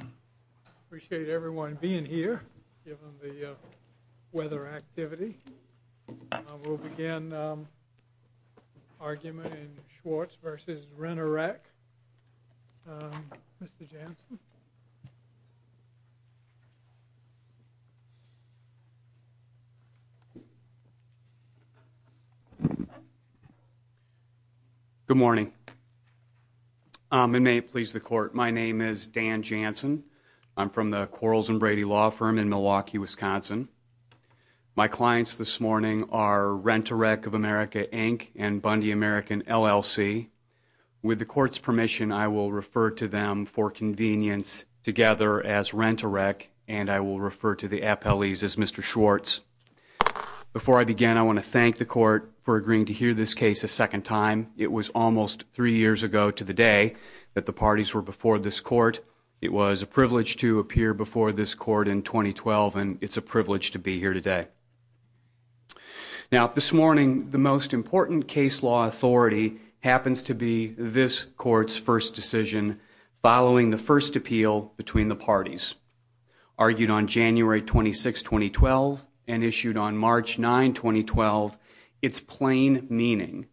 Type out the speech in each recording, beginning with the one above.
I appreciate everyone being here given the weather activity. We'll begin the argument in Schwartz v. Rent A Wreck. Mr. Janssen? Good morning. It may please the court. My name is Dan Janssen. I'm from the Quarles & Brady Law Firm in Milwaukee, Wisconsin. My clients this morning are Rent A Wreck of America Inc. and Bundy American LLC. With the court's permission, I will refer to them for convenience together as Rent A Wreck and I will refer to the appellees as Mr. Schwartz. Before I begin, I want to thank the court for agreeing to hear this case a second time. It was almost three years ago to the day that the parties were before this court. It was a privilege to appear before this court in 2012 and it's a privilege to be here today. This morning, the most important case law authority happens to be this court's first decision following the first appeal between the parties. Argued on January 26, 2012 and issued on March 9, 2012, it's plain meaning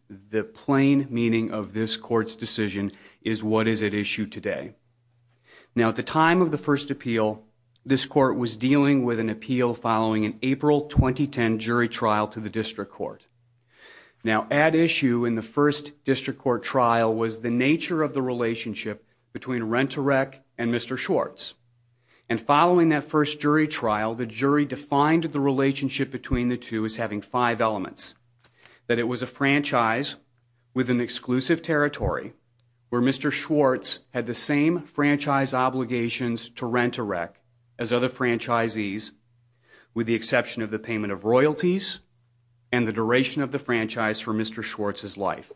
of this court's decision is what is at issue today. At the time of the first appeal, this court was dealing with an appeal following an April 2010 jury trial to the district court. At issue in the first district court trial was the nature of the relationship between Rent A Wreck and Mr. Schwartz. Following that first jury trial, the jury defined the relationship between the two as having five elements. That it was a franchise with an exclusive territory where Mr. Schwartz had the same franchise obligations to Rent A Wreck as other franchisees with the exception of the payment of royalties and the duration of the franchise for Mr. Schwartz's life.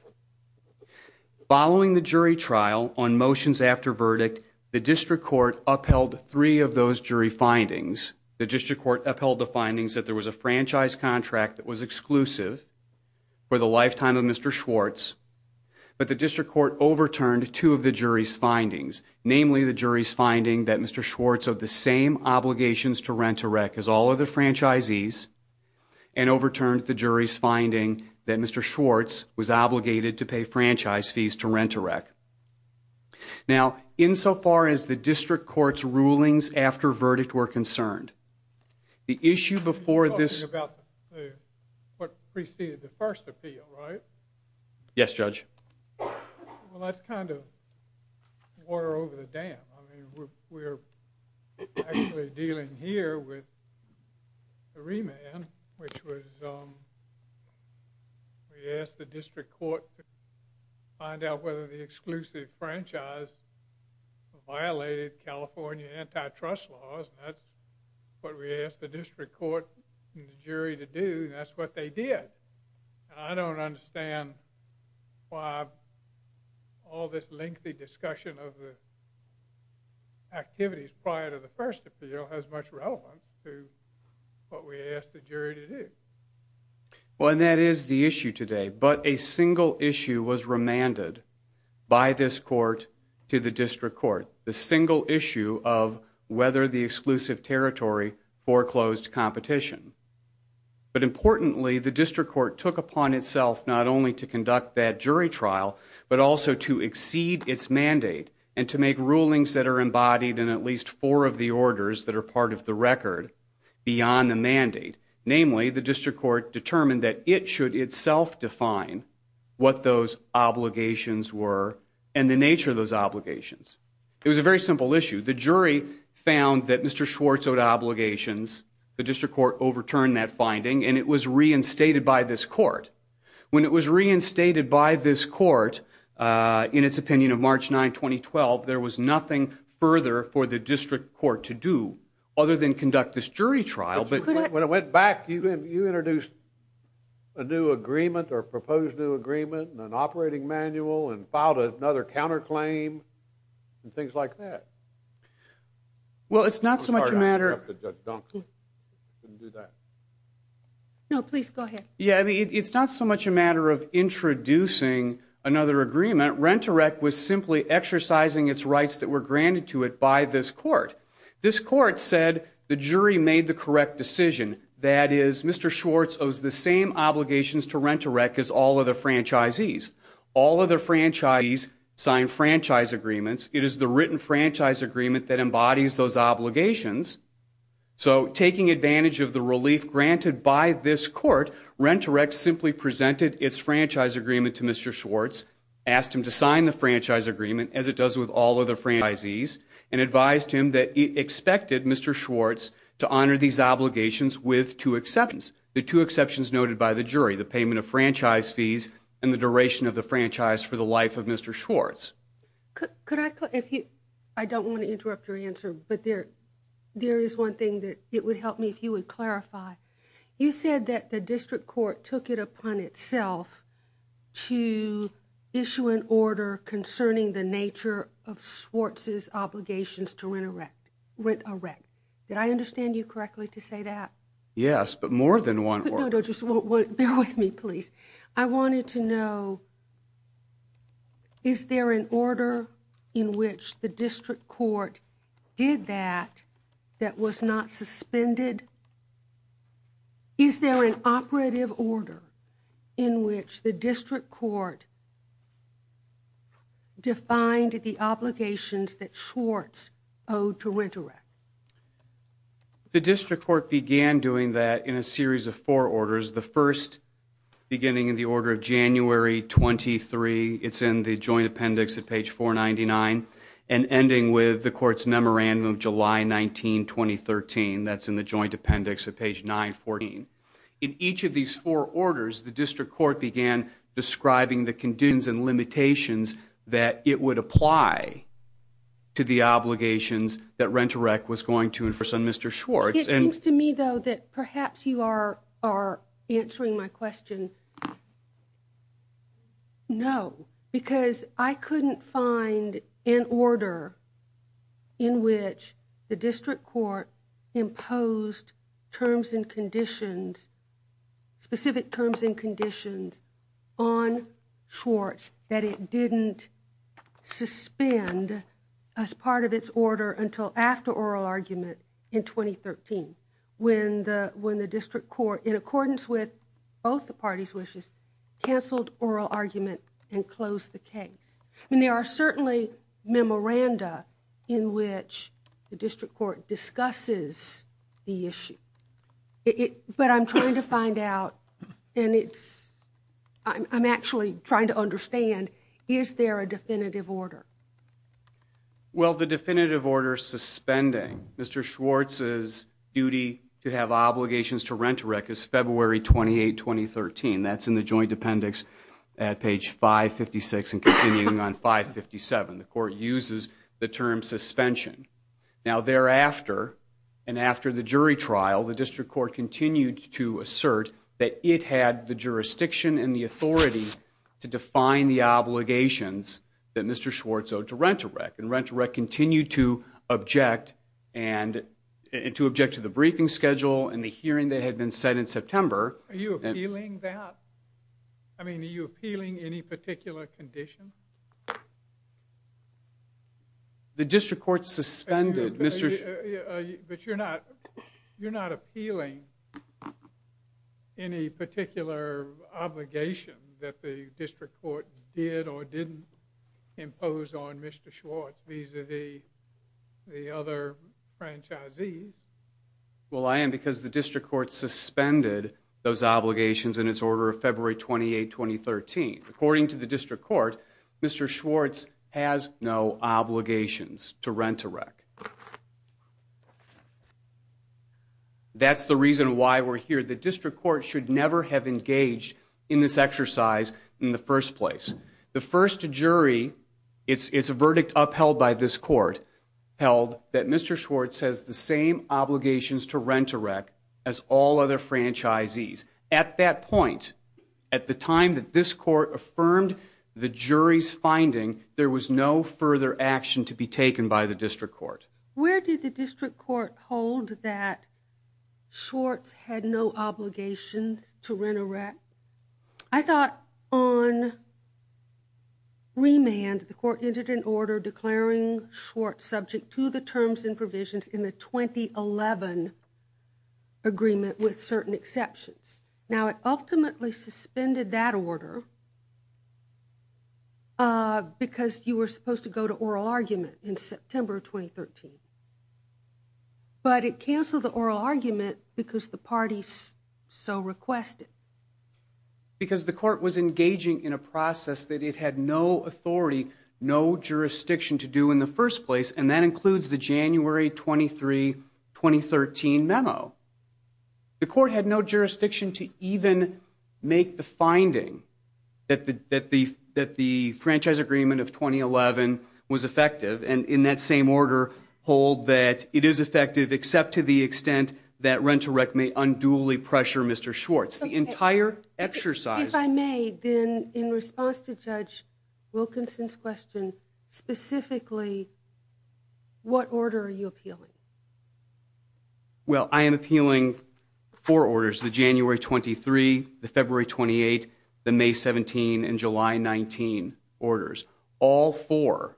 Following the jury trial on motions after verdict, the district court upheld three of those jury findings. The district court upheld the findings that there was a franchise contract that was exclusive for the lifetime of Mr. Schwartz, but the district court overturned two of the jury's findings. Namely, the jury's finding that Mr. Schwartz had the same obligations to Rent A Wreck as all other franchisees and overturned the jury's finding that Mr. Schwartz was obligated to pay franchise fees to Rent A Wreck. Now, insofar as the district court's rulings after verdict were concerned, the issue before this... ...violated California antitrust laws, and that's what we asked the district court and the jury to do, and that's what they did. And I don't understand why all this lengthy discussion of the activities prior to the first appeal has much relevance to what we asked the jury to do. Well, and that is the issue today, but a single issue was remanded by this court to the district court, the single issue of whether the exclusive territory foreclosed competition. But importantly, the district court took upon itself not only to conduct that jury trial, but also to exceed its mandate and to make rulings that are embodied in at least four of the orders that are part of the record beyond the mandate. Namely, the district court determined that it should itself define what those obligations were and the nature of those obligations. It was a very simple issue. The jury found that Mr. Schwartz owed obligations. The district court overturned that finding, and it was reinstated by this court. When it was reinstated by this court in its opinion of March 9, 2012, there was nothing further for the district court to do other than conduct this jury trial. When it went back, you introduced a new agreement or proposed new agreement and an operating manual and filed another counterclaim and things like that. Well, it's not so much a matter of introducing another agreement. Rent Direct was simply exercising its rights that were granted to it by this court. This court said the jury made the correct decision. That is, Mr. Schwartz owes the same obligations to Rent Direct as all other franchisees. All other franchisees signed franchise agreements. It is the written franchise agreement that embodies those obligations. So taking advantage of the relief granted by this court, Rent Direct simply presented its franchise agreement to Mr. Schwartz, asked him to sign the franchise agreement as it does with all other franchisees, and advised him that it expected Mr. Schwartz to honor these obligations with two exceptions. The two exceptions noted by the jury, the payment of franchise fees and the duration of the franchise for the life of Mr. Schwartz. I don't want to interrupt your answer, but there is one thing that it would help me if you would clarify. You said that the district court took it upon itself to issue an order concerning the nature of Schwartz's obligations to Rent Direct. Did I understand you correctly to say that? Yes, but more than one order. Bear with me, please. I wanted to know, is there an order in which the district court did that that was not suspended? Is there an operative order in which the district court defined the obligations that Schwartz owed to Rent Direct? The district court began doing that in a series of four orders. The first, beginning in the order of January 23, it's in the joint appendix at page 499, and ending with the court's memorandum of July 19, 2013. That's in the joint appendix at page 914. In each of these four orders, the district court began describing the conditions and limitations that it would apply to the obligations that Rent Direct was going to and for some Mr. Schwartz. It seems to me, though, that perhaps you are answering my question no, because I couldn't find an order in which the district court imposed terms and conditions, specific terms and conditions on Schwartz that it didn't suspend as part of its order until after oral argument in 2013, when the district court, in accordance with both the parties' wishes, canceled oral argument and closed the case. I mean, there are certainly memoranda in which the district court discusses the issue. But I'm trying to find out, and I'm actually trying to understand, is there a definitive order? Well, the definitive order suspending Mr. Schwartz's duty to have obligations to Rent Direct is February 28, 2013. That's in the joint appendix at page 556 and continuing on 557. The court uses the term suspension. Now, thereafter and after the jury trial, the district court continued to assert that it had the jurisdiction and the authority to define the obligations that Mr. Schwartz owed to Rent Direct. And Rent Direct continued to object and to object to the briefing schedule and the hearing that had been set in September. Are you appealing that? I mean, are you appealing any particular condition? The district court suspended Mr. Schwartz. But you're not appealing any particular obligation that the district court did or didn't impose on Mr. Schwartz vis-à-vis the other franchisees. Well, I am because the district court suspended those obligations in its order of February 28, 2013. According to the district court, Mr. Schwartz has no obligations to Rent Direct. That's the reason why we're here. The district court should never have engaged in this exercise in the first place. The first jury, it's a verdict upheld by this court, held that Mr. Schwartz has the same obligations to Rent Direct as all other franchisees. At that point, at the time that this court affirmed the jury's finding, there was no further action to be taken by the district court. Where did the district court hold that Schwartz had no obligations to Rent Direct? I thought on remand, the court entered an order declaring Schwartz subject to the terms and provisions in the 2011 agreement with certain exceptions. Now, it ultimately suspended that order because you were supposed to go to oral argument in September 2013. But it canceled the oral argument because the parties so requested. Because the court was engaging in a process that it had no authority, no jurisdiction to do in the first place, and that includes the January 23, 2013 memo. The court had no jurisdiction to even make the finding that the franchise agreement of 2011 was effective, and in that same order hold that it is effective except to the extent that Rent Direct may unduly pressure Mr. Schwartz. The entire exercise... If I may, then in response to Judge Wilkinson's question, specifically, what order are you appealing? Well, I am appealing four orders, the January 23, the February 28, the May 17, and July 19 orders. All four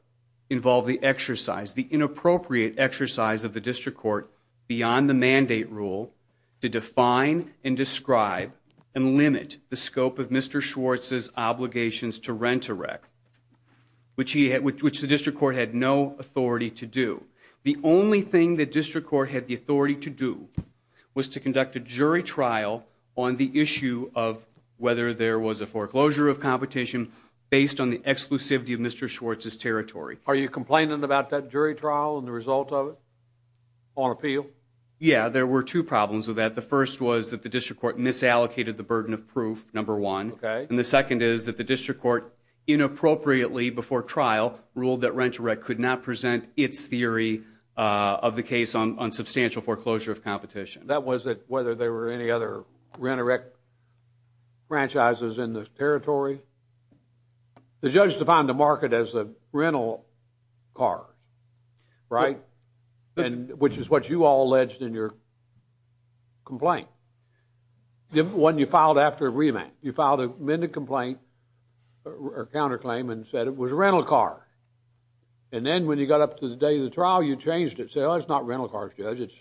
involve the exercise, the inappropriate exercise of the district court beyond the mandate rule to define and describe and limit the scope of Mr. Schwartz's obligations to Rent Direct, which the district court had no authority to do. The only thing the district court had the authority to do was to conduct a jury trial on the issue of whether there was a foreclosure of competition based on the exclusivity of Mr. Schwartz's territory. Are you complaining about that jury trial and the result of it on appeal? Yeah, there were two problems with that. The first was that the district court misallocated the burden of proof, number one. Okay. And the second is that the district court inappropriately before trial ruled that Rent Direct could not present its theory of the case on substantial foreclosure of competition. That was it, whether there were any other Rent Direct franchises in the territory. The judge defined the market as a rental car, right, which is what you all alleged in your complaint. The one you filed after remand. You filed a amended complaint or counterclaim and said it was a rental car. And then when you got up to the day of the trial, you changed it. Said, oh, it's not rental cars, judge.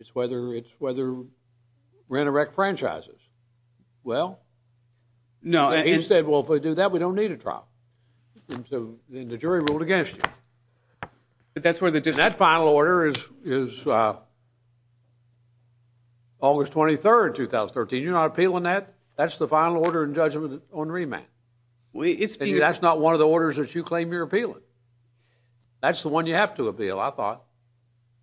It's whether Rent Direct franchises. Well, he said, well, if we do that, we don't need a trial. And so then the jury ruled against you. That final order is August 23rd, 2013. You're not appealing that? That's the final order in judgment on remand. That's not one of the orders that you claim you're appealing. That's the one you have to appeal, I thought.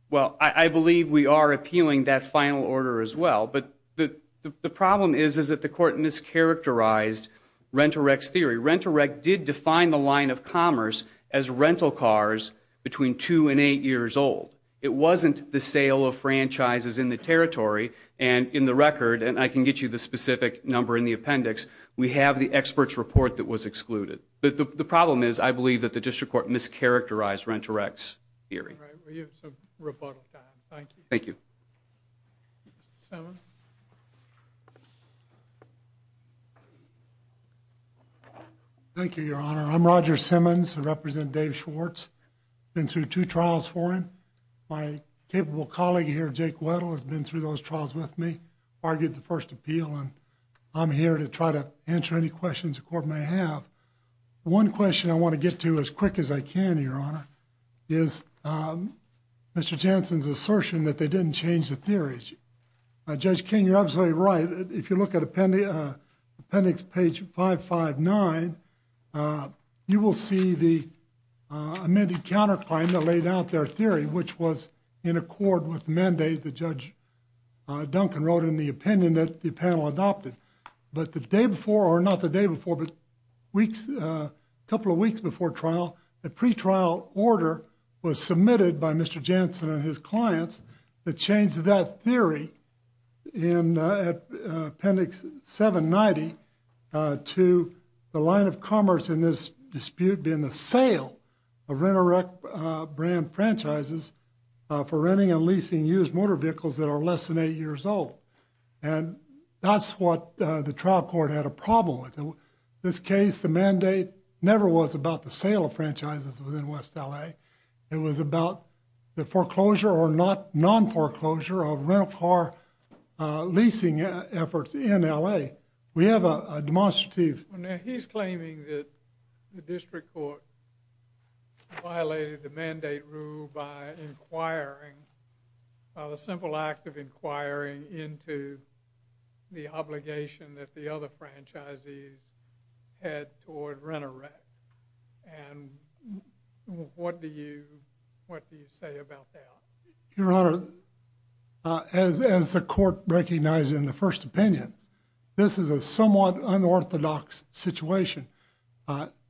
Well, I believe we are appealing that final order as well. But the problem is that the court mischaracterized Rent Direct's theory. Rent Direct did define the line of commerce as rental cars between two and eight years old. It wasn't the sale of franchises in the territory. And in the record, and I can get you the specific number in the appendix, we have the expert's report that was excluded. But the problem is I believe that the district court mischaracterized Rent Direct's theory. All right. We have some rebuttal time. Thank you. Thank you. Seven. Thank you, Your Honor. I'm Roger Simmons. I represent Dave Schwartz. Been through two trials for him. My capable colleague here, Jake Weddle, has been through those trials with me, argued the first appeal, and I'm here to try to answer any questions the court may have. One question I want to get to as quick as I can, Your Honor, is Mr. Jansen's assertion that they didn't change the theories. Judge King, you're absolutely right. If you look at appendix page 559, you will see the amended counterclaim that laid out their theory, which was in accord with the mandate that Judge Duncan wrote in the opinion that the panel adopted. But the day before, or not the day before, but weeks, a couple of weeks before trial, a pretrial order was submitted by Mr. Jansen and his clients that changed that theory in appendix 790 to the line of commerce in this dispute being the sale of Renorec brand franchises for renting and leasing used motor vehicles that are less than eight years old. And that's what the trial court had a problem with. In this case, the mandate never was about the sale of franchises within West L.A. It was about the foreclosure or non-foreclosure of rental car leasing efforts in L.A. We have a demonstrative... He's claiming that the district court violated the mandate rule by inquiring, by the simple act of inquiring into the obligation that the other franchisees had toward Renorec. And what do you say about that? Your Honor, as the court recognized in the first opinion, this is a somewhat unorthodox situation.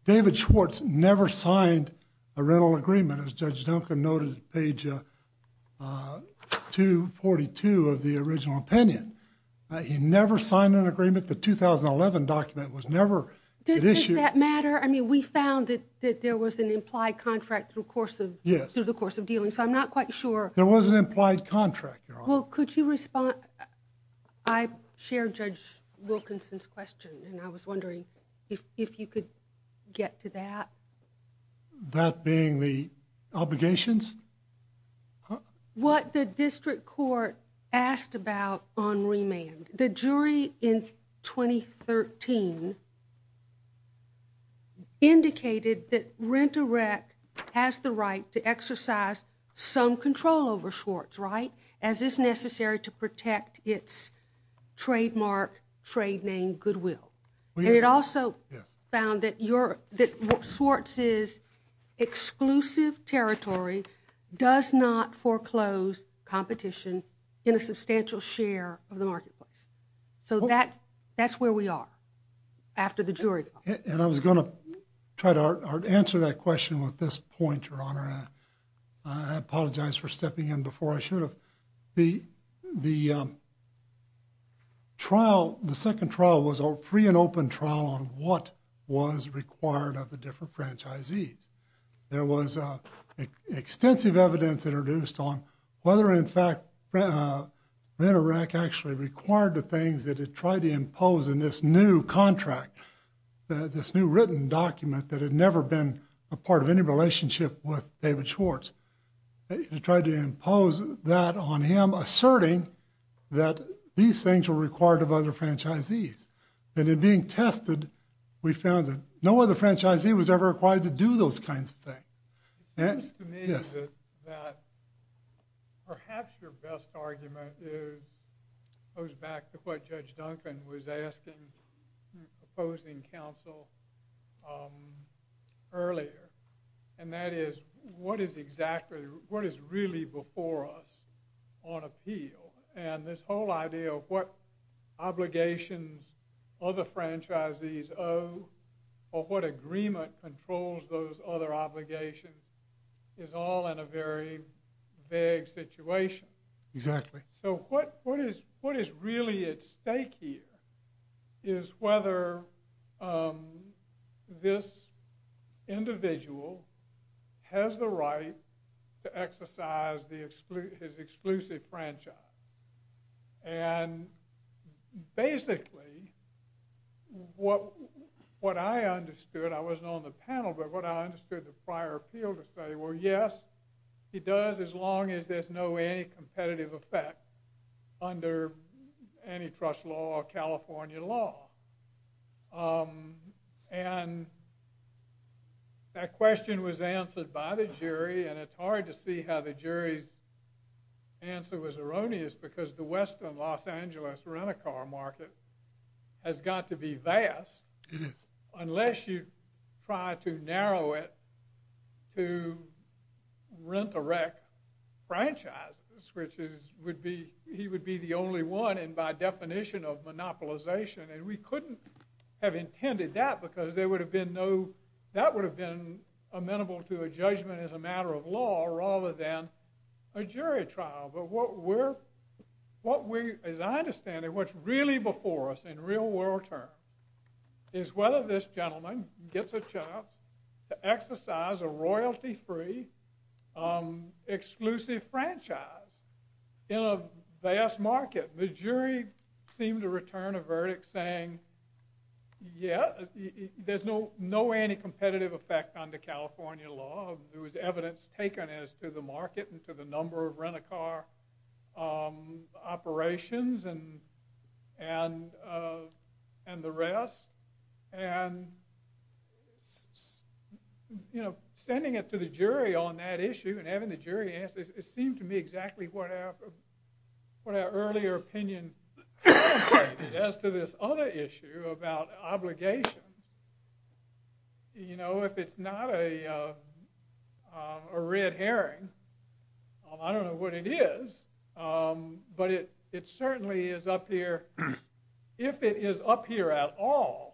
David Schwartz never signed a rental agreement. As Judge Duncan noted at page 242 of the original opinion. He never signed an agreement. The 2011 document was never issued. Does that matter? I mean, we found that there was an implied contract through the course of dealing, so I'm not quite sure. There was an implied contract, Your Honor. Well, could you respond? I share Judge Wilkinson's question, and I was wondering if you could get to that. That being the obligations? What the district court asked about on remand. The jury in 2013 indicated that Renorec has the right to exercise some control over Schwartz, right? As is necessary to protect its trademark trade name, Goodwill. And it also found that Schwartz's exclusive territory does not foreclose competition in a substantial share of the marketplace. So that's where we are after the jury. And I was going to try to answer that question with this point, Your Honor. I apologize for stepping in before I should have. The trial, the second trial, was a free and open trial on what was required of the different franchisees. There was extensive evidence introduced on whether, in fact, Renorec actually required the things that it tried to impose in this new contract, this new written document that had never been a part of any relationship with David Schwartz. It tried to impose that on him, asserting that these things were required of other franchisees. And in being tested, we found that no other franchisee was ever required to do those kinds of things. It seems to me that perhaps your best argument goes back to what Judge Duncan was asking, proposing counsel earlier. And that is, what is exactly, what is really before us on appeal? And this whole idea of what obligations other franchisees owe, or what agreement controls those other obligations, is all in a very vague situation. Exactly. So what is really at stake here is whether this individual has the right to exercise his exclusive franchise. And basically, what I understood, I wasn't on the panel, but what I understood the prior appeal to say, well, yes, he does, as long as there's no way any competitive effect under antitrust law or California law. And that question was answered by the jury, and it's hard to see how the jury's answer was erroneous, because the Western Los Angeles rent-a-car market has got to be vast, unless you try to narrow it to rent-a-wreck franchises, which he would be the only one, and by definition of monopolization. And we couldn't have intended that, because that would have been amenable to a judgment as a matter of law, rather than a jury trial. But what we're, as I understand it, what's really before us in real-world terms is whether this gentleman gets a chance to exercise a royalty-free exclusive franchise in a vast market. The jury seemed to return a verdict saying, yeah, there's no anti-competitive effect under California law. There was evidence taken as to the market and to the number of rent-a-car operations and the rest. And, you know, sending it to the jury on that issue and having the jury answer, it seemed to me exactly what our earlier opinion was as to this other issue about obligations. You know, if it's not a red herring, I don't know what it is, but it certainly is up here, if it is up here at all,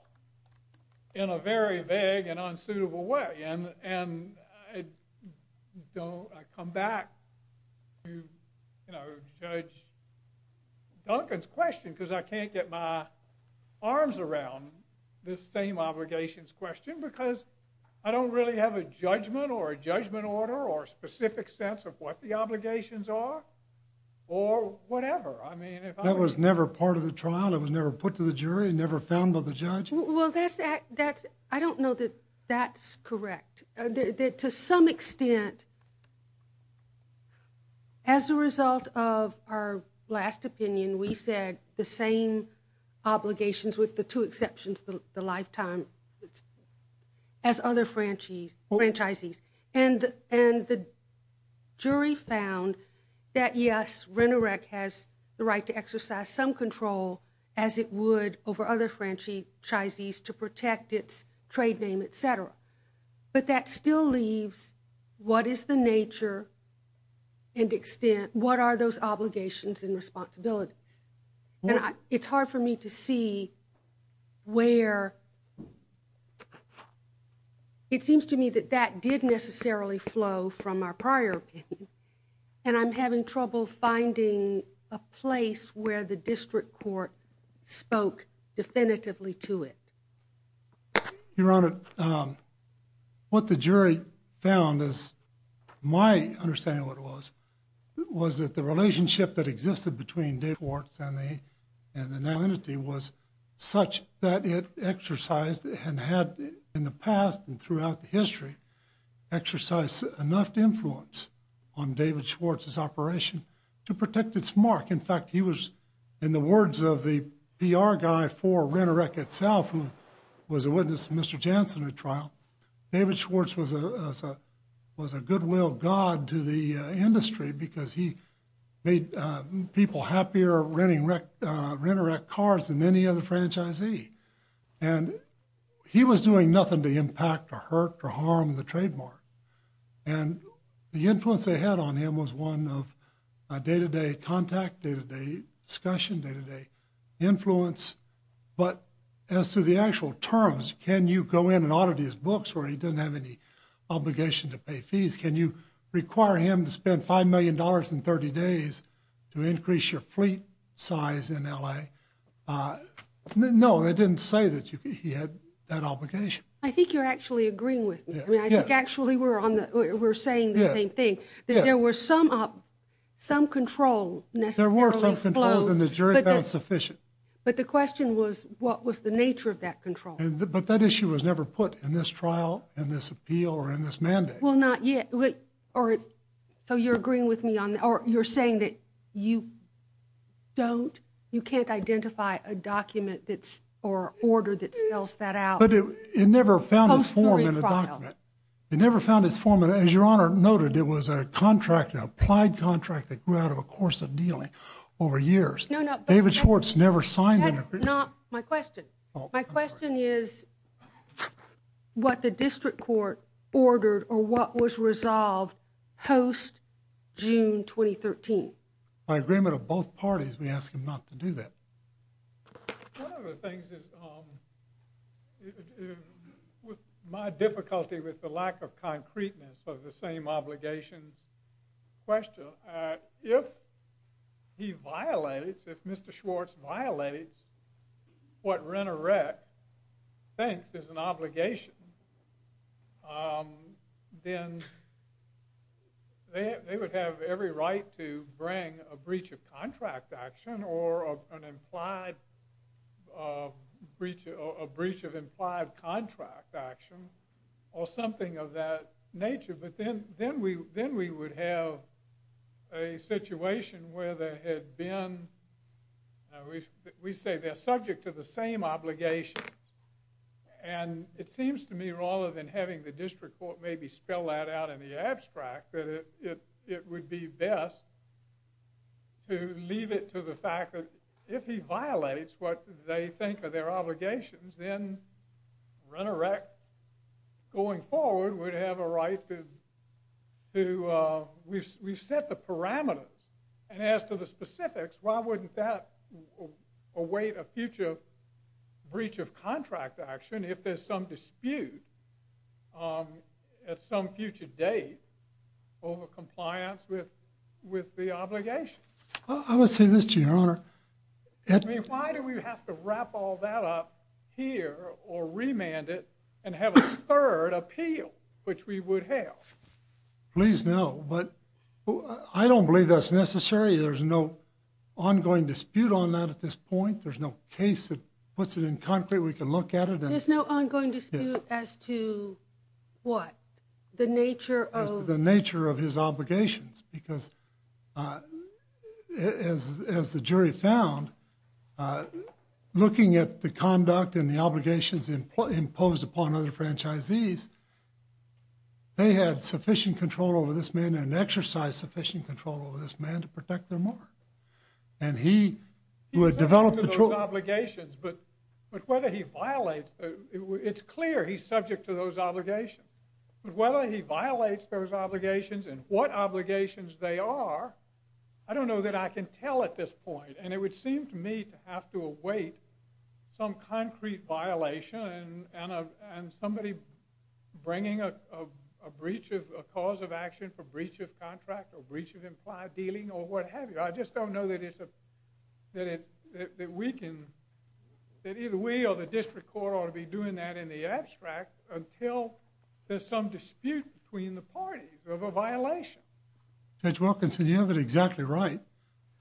in a very vague and unsuitable way. And I come back to Judge Duncan's question, because I can't get my arms around this same obligations question, because I don't really have a judgment or a judgment order or a specific sense of what the obligations are or whatever. That was never part of the trial? It was never put to the jury, never found by the judge? Well, I don't know that that's correct. To some extent, as a result of our last opinion, we said the same obligations with the two exceptions, the lifetime, as other franchisees. And the jury found that, yes, RENEREC has the right to exercise some control, as it would over other franchisees, to protect its trade name, et cetera. But that still leaves what is the nature and extent, what are those obligations and responsibilities. And it's hard for me to see where, it seems to me that that didn't necessarily flow from our prior opinion. And I'm having trouble finding a place where the district court spoke definitively to it. Your Honor, what the jury found is, my understanding of what it was, was that the relationship that existed between David Schwartz and the now entity was such that it exercised and had, in the past and throughout the history, exercised enough influence on David Schwartz's operation to protect its mark. In fact, he was, in the words of the PR guy for RENEREC itself, who was a witness to Mr. Jansen at the trial, David Schwartz was a goodwill god to the industry because he made people happier renting RENEREC cars than any other franchisee. And he was doing nothing to impact or hurt or harm the trademark. And the influence they had on him was one of day-to-day contact, day-to-day discussion, day-to-day influence. But as to the actual terms, can you go in and audit his books where he doesn't have any obligation to pay fees? Can you require him to spend $5 million in 30 days to increase your fleet size in L.A.? No, they didn't say that he had that obligation. I think you're actually agreeing with me. I mean, I think actually we're saying the same thing, that there was some control necessarily flowed. There were some controls, and the jury found sufficient. But the question was, what was the nature of that control? But that issue was never put in this trial, in this appeal, or in this mandate. Well, not yet. So you're agreeing with me, or you're saying that you don't, you can't identify a document or order that spells that out? But it never found its form in the document. It never found its form. And as Your Honor noted, it was a contract, an applied contract, that grew out of a course of dealing over years. No, no. David Schwartz never signed an agreement. That's not my question. My question is what the district court ordered or what was resolved post-June 2013. By agreement of both parties, we ask him not to do that. One of the things is, with my difficulty with the lack of concreteness of the same obligations question, if he violates, if Mr. Schwartz violates what Rennerecht thinks is an obligation, then they would have every right to bring a breach of contract action or a breach of implied contract action or something of that nature. But then we would have a situation where they had been, we say they're subject to the same obligations. And it seems to me, rather than having the district court maybe spell that out in the abstract, that it would be best to leave it to the fact that if he violates what they think are their obligations, then Rennerecht going forward would have a right to, we've set the parameters. And as to the specifics, why wouldn't that await a future breach of contract action if there's some dispute at some future date over compliance with the obligation? I mean, why do we have to wrap all that up here or remand it and have a third appeal, which we would have? Please know, but I don't believe that's necessary. There's no ongoing dispute on that at this point. There's no case that puts it in concrete we can look at it. There's no ongoing dispute as to what? As to the nature of his obligations, because as the jury found, looking at the conduct and the obligations imposed upon other franchisees, they had sufficient control over this man and exercised sufficient control over this man to protect their mark. And he would develop the true- But whether he violates, it's clear he's subject to those obligations. But whether he violates those obligations and what obligations they are, I don't know that I can tell at this point. And it would seem to me to have to await some concrete violation and somebody bringing a breach of a cause of action for breach of contract or breach of implied dealing or what have you. I just don't know that it's a, that we can, that either we or the district court ought to be doing that in the abstract until there's some dispute between the parties of a violation. Judge Wilkinson, you have it exactly right.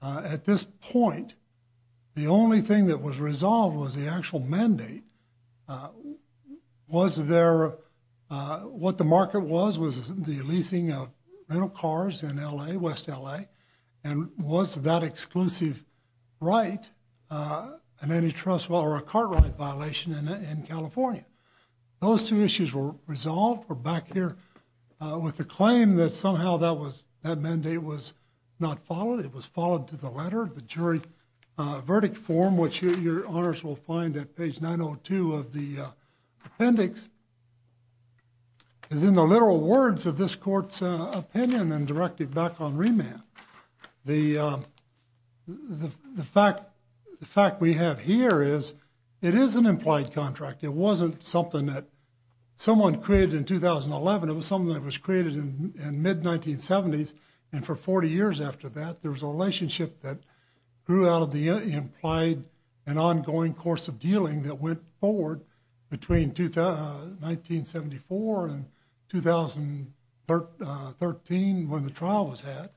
At this point, the only thing that was resolved was the actual mandate. Was there, what the market was, was the leasing of rental cars in L.A., West L.A. and was that exclusive right an antitrust or a car right violation in California? Those two issues were resolved. We're back here with the claim that somehow that mandate was not followed. It was followed to the letter. The jury verdict form, which your honors will find at page 902 of the appendix, is in the literal words of this court's opinion and directed back on remand. The fact we have here is it is an implied contract. It wasn't something that someone created in 2011. It was something that was created in mid-1970s and for 40 years after that, there was a relationship that grew out of the implied and ongoing course of dealing that went forward between 1974 and 2013 when the trial was had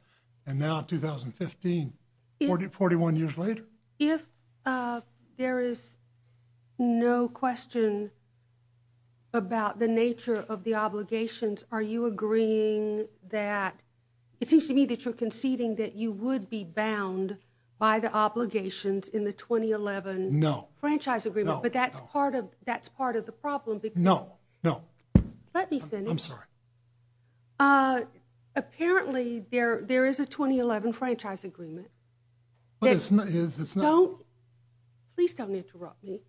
and now 2015, 41 years later. If there is no question about the nature of the obligations, are you agreeing that it seems to me that you're conceding that you would be bound by the obligations in the 2011 franchise agreement? No, no. But that's part of the problem. No, no. Let me finish. I'm sorry. Apparently, there is a 2011 franchise agreement. What is this now? Please don't interrupt me.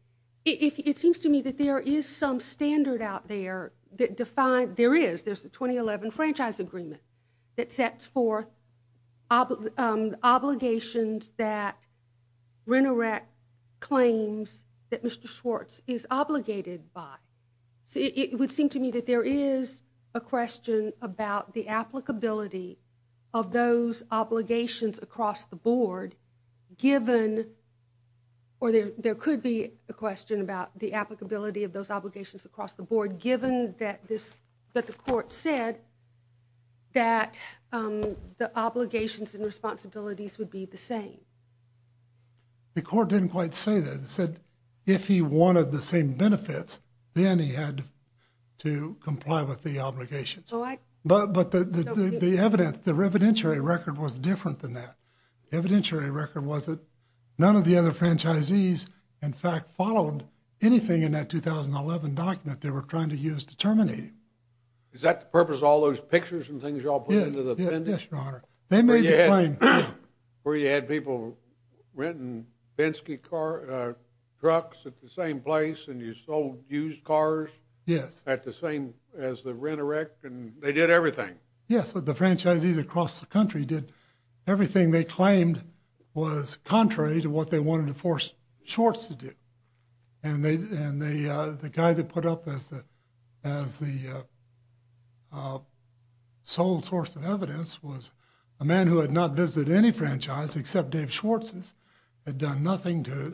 It seems to me that there is some standard out there that defines, there is, the 2011 franchise agreement that sets forth obligations that RENEREC claims that Mr. Schwartz is obligated by. It would seem to me that there is a question about the applicability of those obligations across the board, given, or there could be a question about the applicability of those obligations across the board, given that the court said that the obligations and responsibilities would be the same. The court didn't quite say that. It said if he wanted the same benefits, then he had to comply with the obligations. But the evidentiary record was different than that. The evidentiary record was that none of the other franchisees, in fact, followed anything in that 2011 document they were trying to use to terminate him. Is that the purpose of all those pictures and things you all put into the appendix? Yes, Your Honor. They made the claim. Where you had people renting Bensky trucks at the same place and you sold used cars? Yes. At the same, as the RENEREC, and they did everything? Yes. The franchisees across the country did everything they claimed was contrary to what they wanted to force Schwartz to do. And the guy they put up as the sole source of evidence was a man who had not visited any franchise except Dave Schwartz's, had done nothing to it.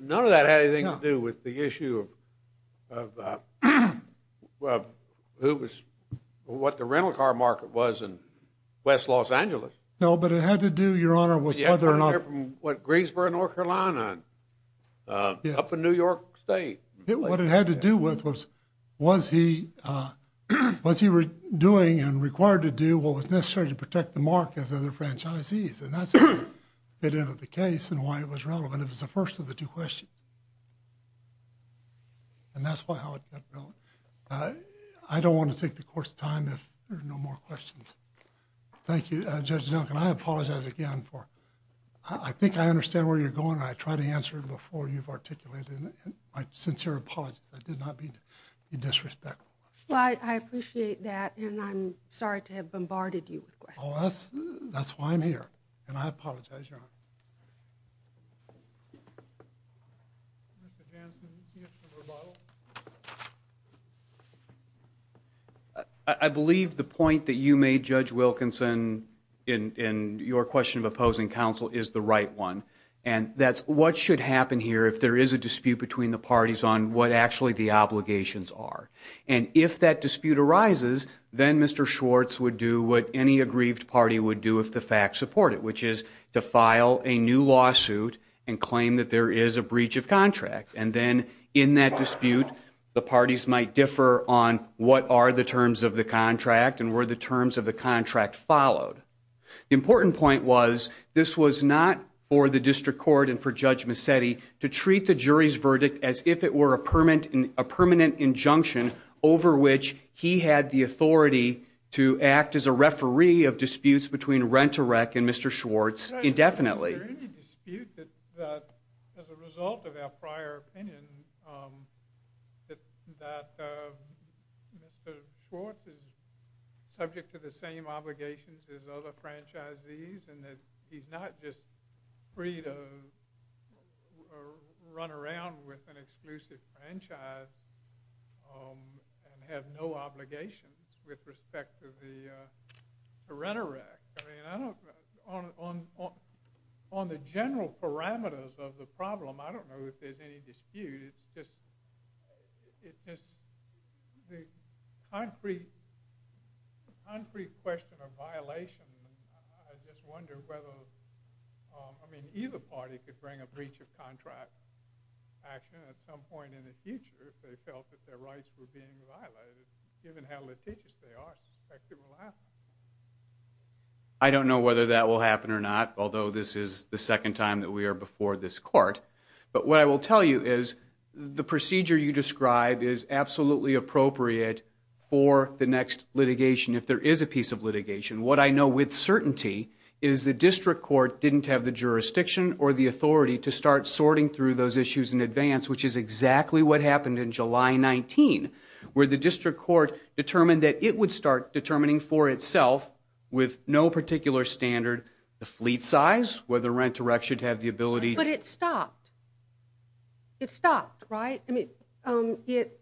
What the rental car market was in West Los Angeles. No, but it had to do, Your Honor, with whether or not- You had to hear from Greensboro, North Carolina, up in New York State. What it had to do with was, was he doing and required to do what was necessary to protect the market as other franchisees. And that's the case and why it was relevant. It was the first of the two questions. And that's how it got going. I don't want to take the course of time if there are no more questions. Thank you, Judge Duncan. I apologize again for, I think I understand where you're going. I tried to answer it before you've articulated it. My sincere apologies. I did not mean to be disrespectful. Well, I appreciate that and I'm sorry to have bombarded you with questions. Oh, that's why I'm here. And I apologize, Your Honor. Mr. Hanson, you can answer the rebuttal. I believe the point that you made, Judge Wilkinson, in your question of opposing counsel is the right one. And that's what should happen here if there is a dispute between the parties on what actually the obligations are. And if that dispute arises, then Mr. Schwartz would do what any aggrieved party would do if the facts support it, which is to file a new lawsuit and claim that there is a breach of contract. And then in that dispute, the parties might differ on what are the terms of the contract and were the terms of the contract followed. The important point was this was not for the district court and for Judge Massetti to treat the jury's verdict as if it were a permanent injunction over which he had the authority to act as a referee of disputes between Rent-a-Rec and Mr. Schwartz indefinitely. Is there any dispute that, as a result of our prior opinion, that Mr. Schwartz is subject to the same obligations as other franchisees and that he's not just free to run around with an exclusive franchise and have no obligations with respect to the Rent-a-Rec? On the general parameters of the problem, I don't know if there's any dispute. It's just the concrete question of violation. I just wonder whether, I mean, either party could bring a breach of contract action at some point in the future if they felt that their rights were being violated, given how litigious they are. I don't know whether that will happen or not, although this is the second time that we are before this court. But what I will tell you is the procedure you describe is absolutely appropriate for the next litigation, if there is a piece of litigation. What I know with certainty is the district court didn't have the jurisdiction or the authority to start sorting through those issues in advance, which is exactly what happened in July 19, where the district court determined that it would start determining for itself, with no particular standard, the fleet size, whether Rent-a-Rec should have the ability. But it stopped. It stopped, right? I mean, it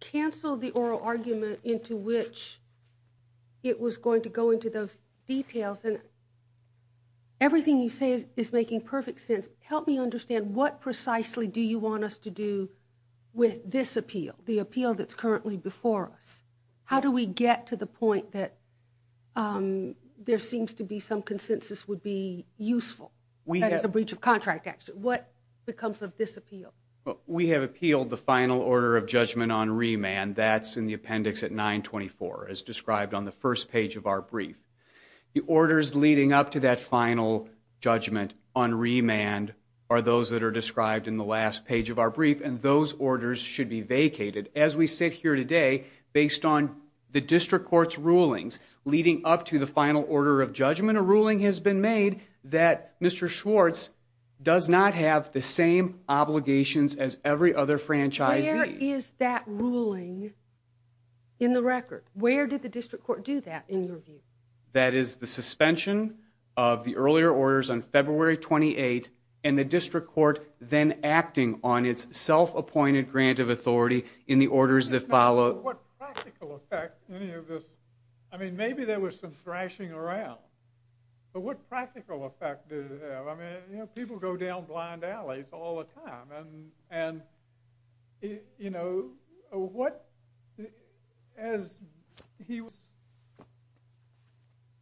canceled the oral argument into which it was going to go into those details. Everything you say is making perfect sense. Help me understand, what precisely do you want us to do with this appeal, the appeal that's currently before us? How do we get to the point that there seems to be some consensus would be useful, that is a breach of contract action? What becomes of this appeal? We have appealed the final order of judgment on remand. That's in the appendix at 924, as described on the first page of our brief. The orders leading up to that final judgment on remand are those that are described in the last page of our brief, and those orders should be vacated. As we sit here today, based on the district court's rulings leading up to the final order of judgment, a ruling has been made that Mr. Schwartz does not have the same obligations as every other franchisee. Where is that ruling in the record? Where did the district court do that, in your view? That is the suspension of the earlier orders on February 28th, and the district court then acting on its self-appointed grant of authority in the orders that follow. What practical effect any of this, I mean, maybe there was some thrashing around, but what practical effect did it have? I mean, you know, people go down blind alleys all the time, and, you know, what, as he was,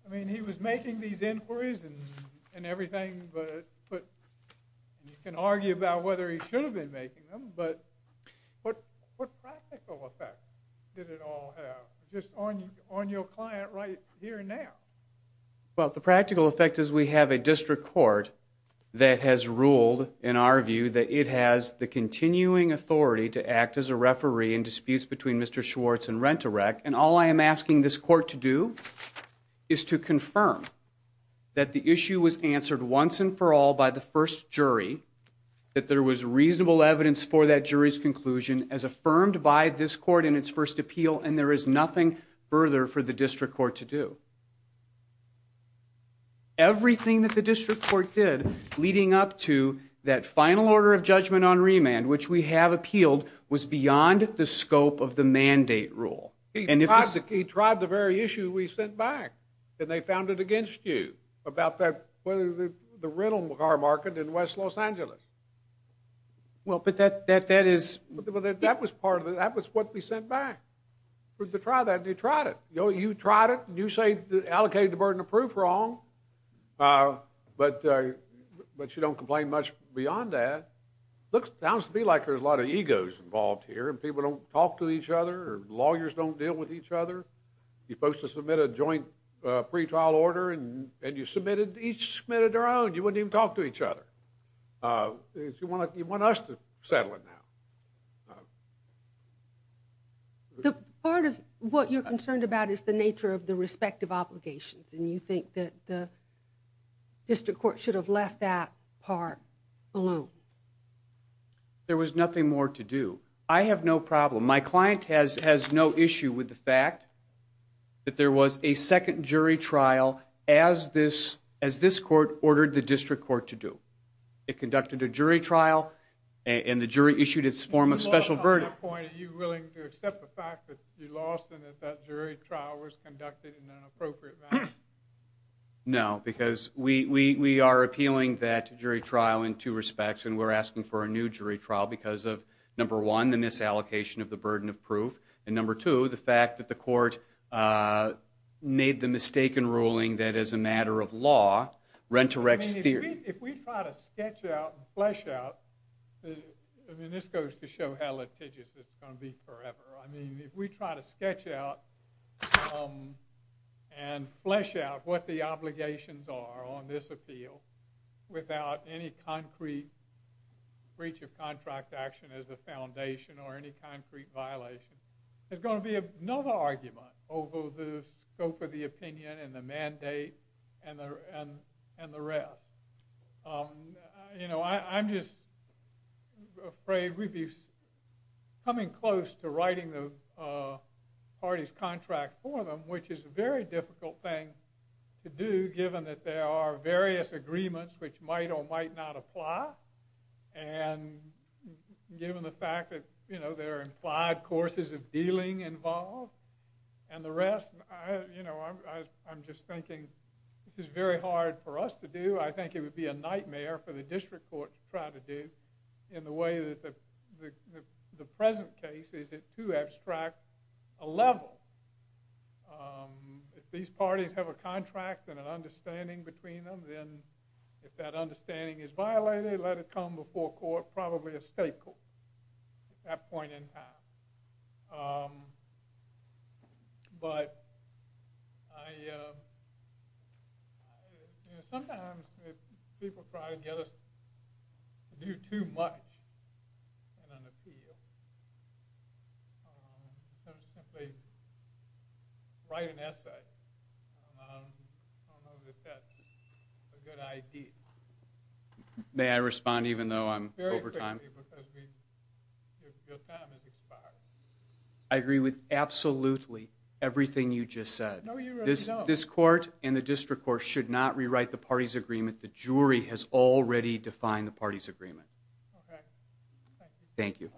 I mean, he was making these inquiries and everything, but you can argue about whether he should have been making them, but what practical effect did it all have, just on your client right here and now? Well, the practical effect is we have a district court that has ruled, in our view, that it has the continuing authority to act as a referee in disputes between Mr. Schwartz and Rent-A-Rec, and all I am asking this court to do is to confirm that the issue was answered once and for all by the first jury, that there was reasonable evidence for that jury's conclusion as affirmed by this court in its first appeal, and there is nothing further for the district court to do. Everything that the district court did leading up to that final order of judgment on remand, which we have appealed, was beyond the scope of the mandate rule. He tried the very issue we sent back, and they found it against you, about the rental car market in West Los Angeles. Well, but that is... That was what we sent back to try that, and they tried it. You know, you tried it, and you say, allocated the burden of proof wrong, but you don't complain much beyond that. It sounds to me like there is a lot of egos involved here, and people don't talk to each other, or lawyers don't deal with each other. You are supposed to submit a joint pretrial order, and you submitted... Each submitted their own. You wouldn't even talk to each other. You want us to settle it now. The part of what you're concerned about is the nature of the respective obligations, and you think that the district court should have left that part alone. There was nothing more to do. I have no problem. My client has no issue with the fact that there was a second jury trial as this court ordered the district court to do. It conducted a jury trial, and the jury issued its form of special verdict. At that point, are you willing to accept the fact that you lost, and that that jury trial was conducted in an appropriate manner? No, because we are appealing that jury trial in two respects, and we're asking for a new jury trial because of, number one, the misallocation of the burden of proof, and number two, the fact that the court made the mistaken ruling that as a matter of law, Rent-a-Rex theory... If we try to sketch out and flesh out... This goes to show how litigious it's going to be forever. If we try to sketch out and flesh out what the obligations are on this appeal without any concrete breach of contract action as the foundation or any concrete violation, there's going to be another argument over the scope of the opinion and the mandate and the rest. I'm just afraid we'd be coming close to writing the party's contract for them, which is a very difficult thing to do given that there are various agreements which might or might not apply and given the fact that there are implied courses of dealing involved. And the rest, I'm just thinking, this is very hard for us to do. I think it would be a nightmare for the district court to try to do in the way that the present case is at too abstract a level. If these parties have a contract and an understanding between them, then if that understanding is violated, let it come before court, it's probably a state court at that point in time. But sometimes if people try to get us to do too much in an appeal, to simply write an essay, I don't know that that's a good idea. May I respond even though I'm over time? I agree with absolutely everything you just said. This court and the district court should not rewrite the party's agreement. The jury has already defined the party's agreement. Thank you. Thank you.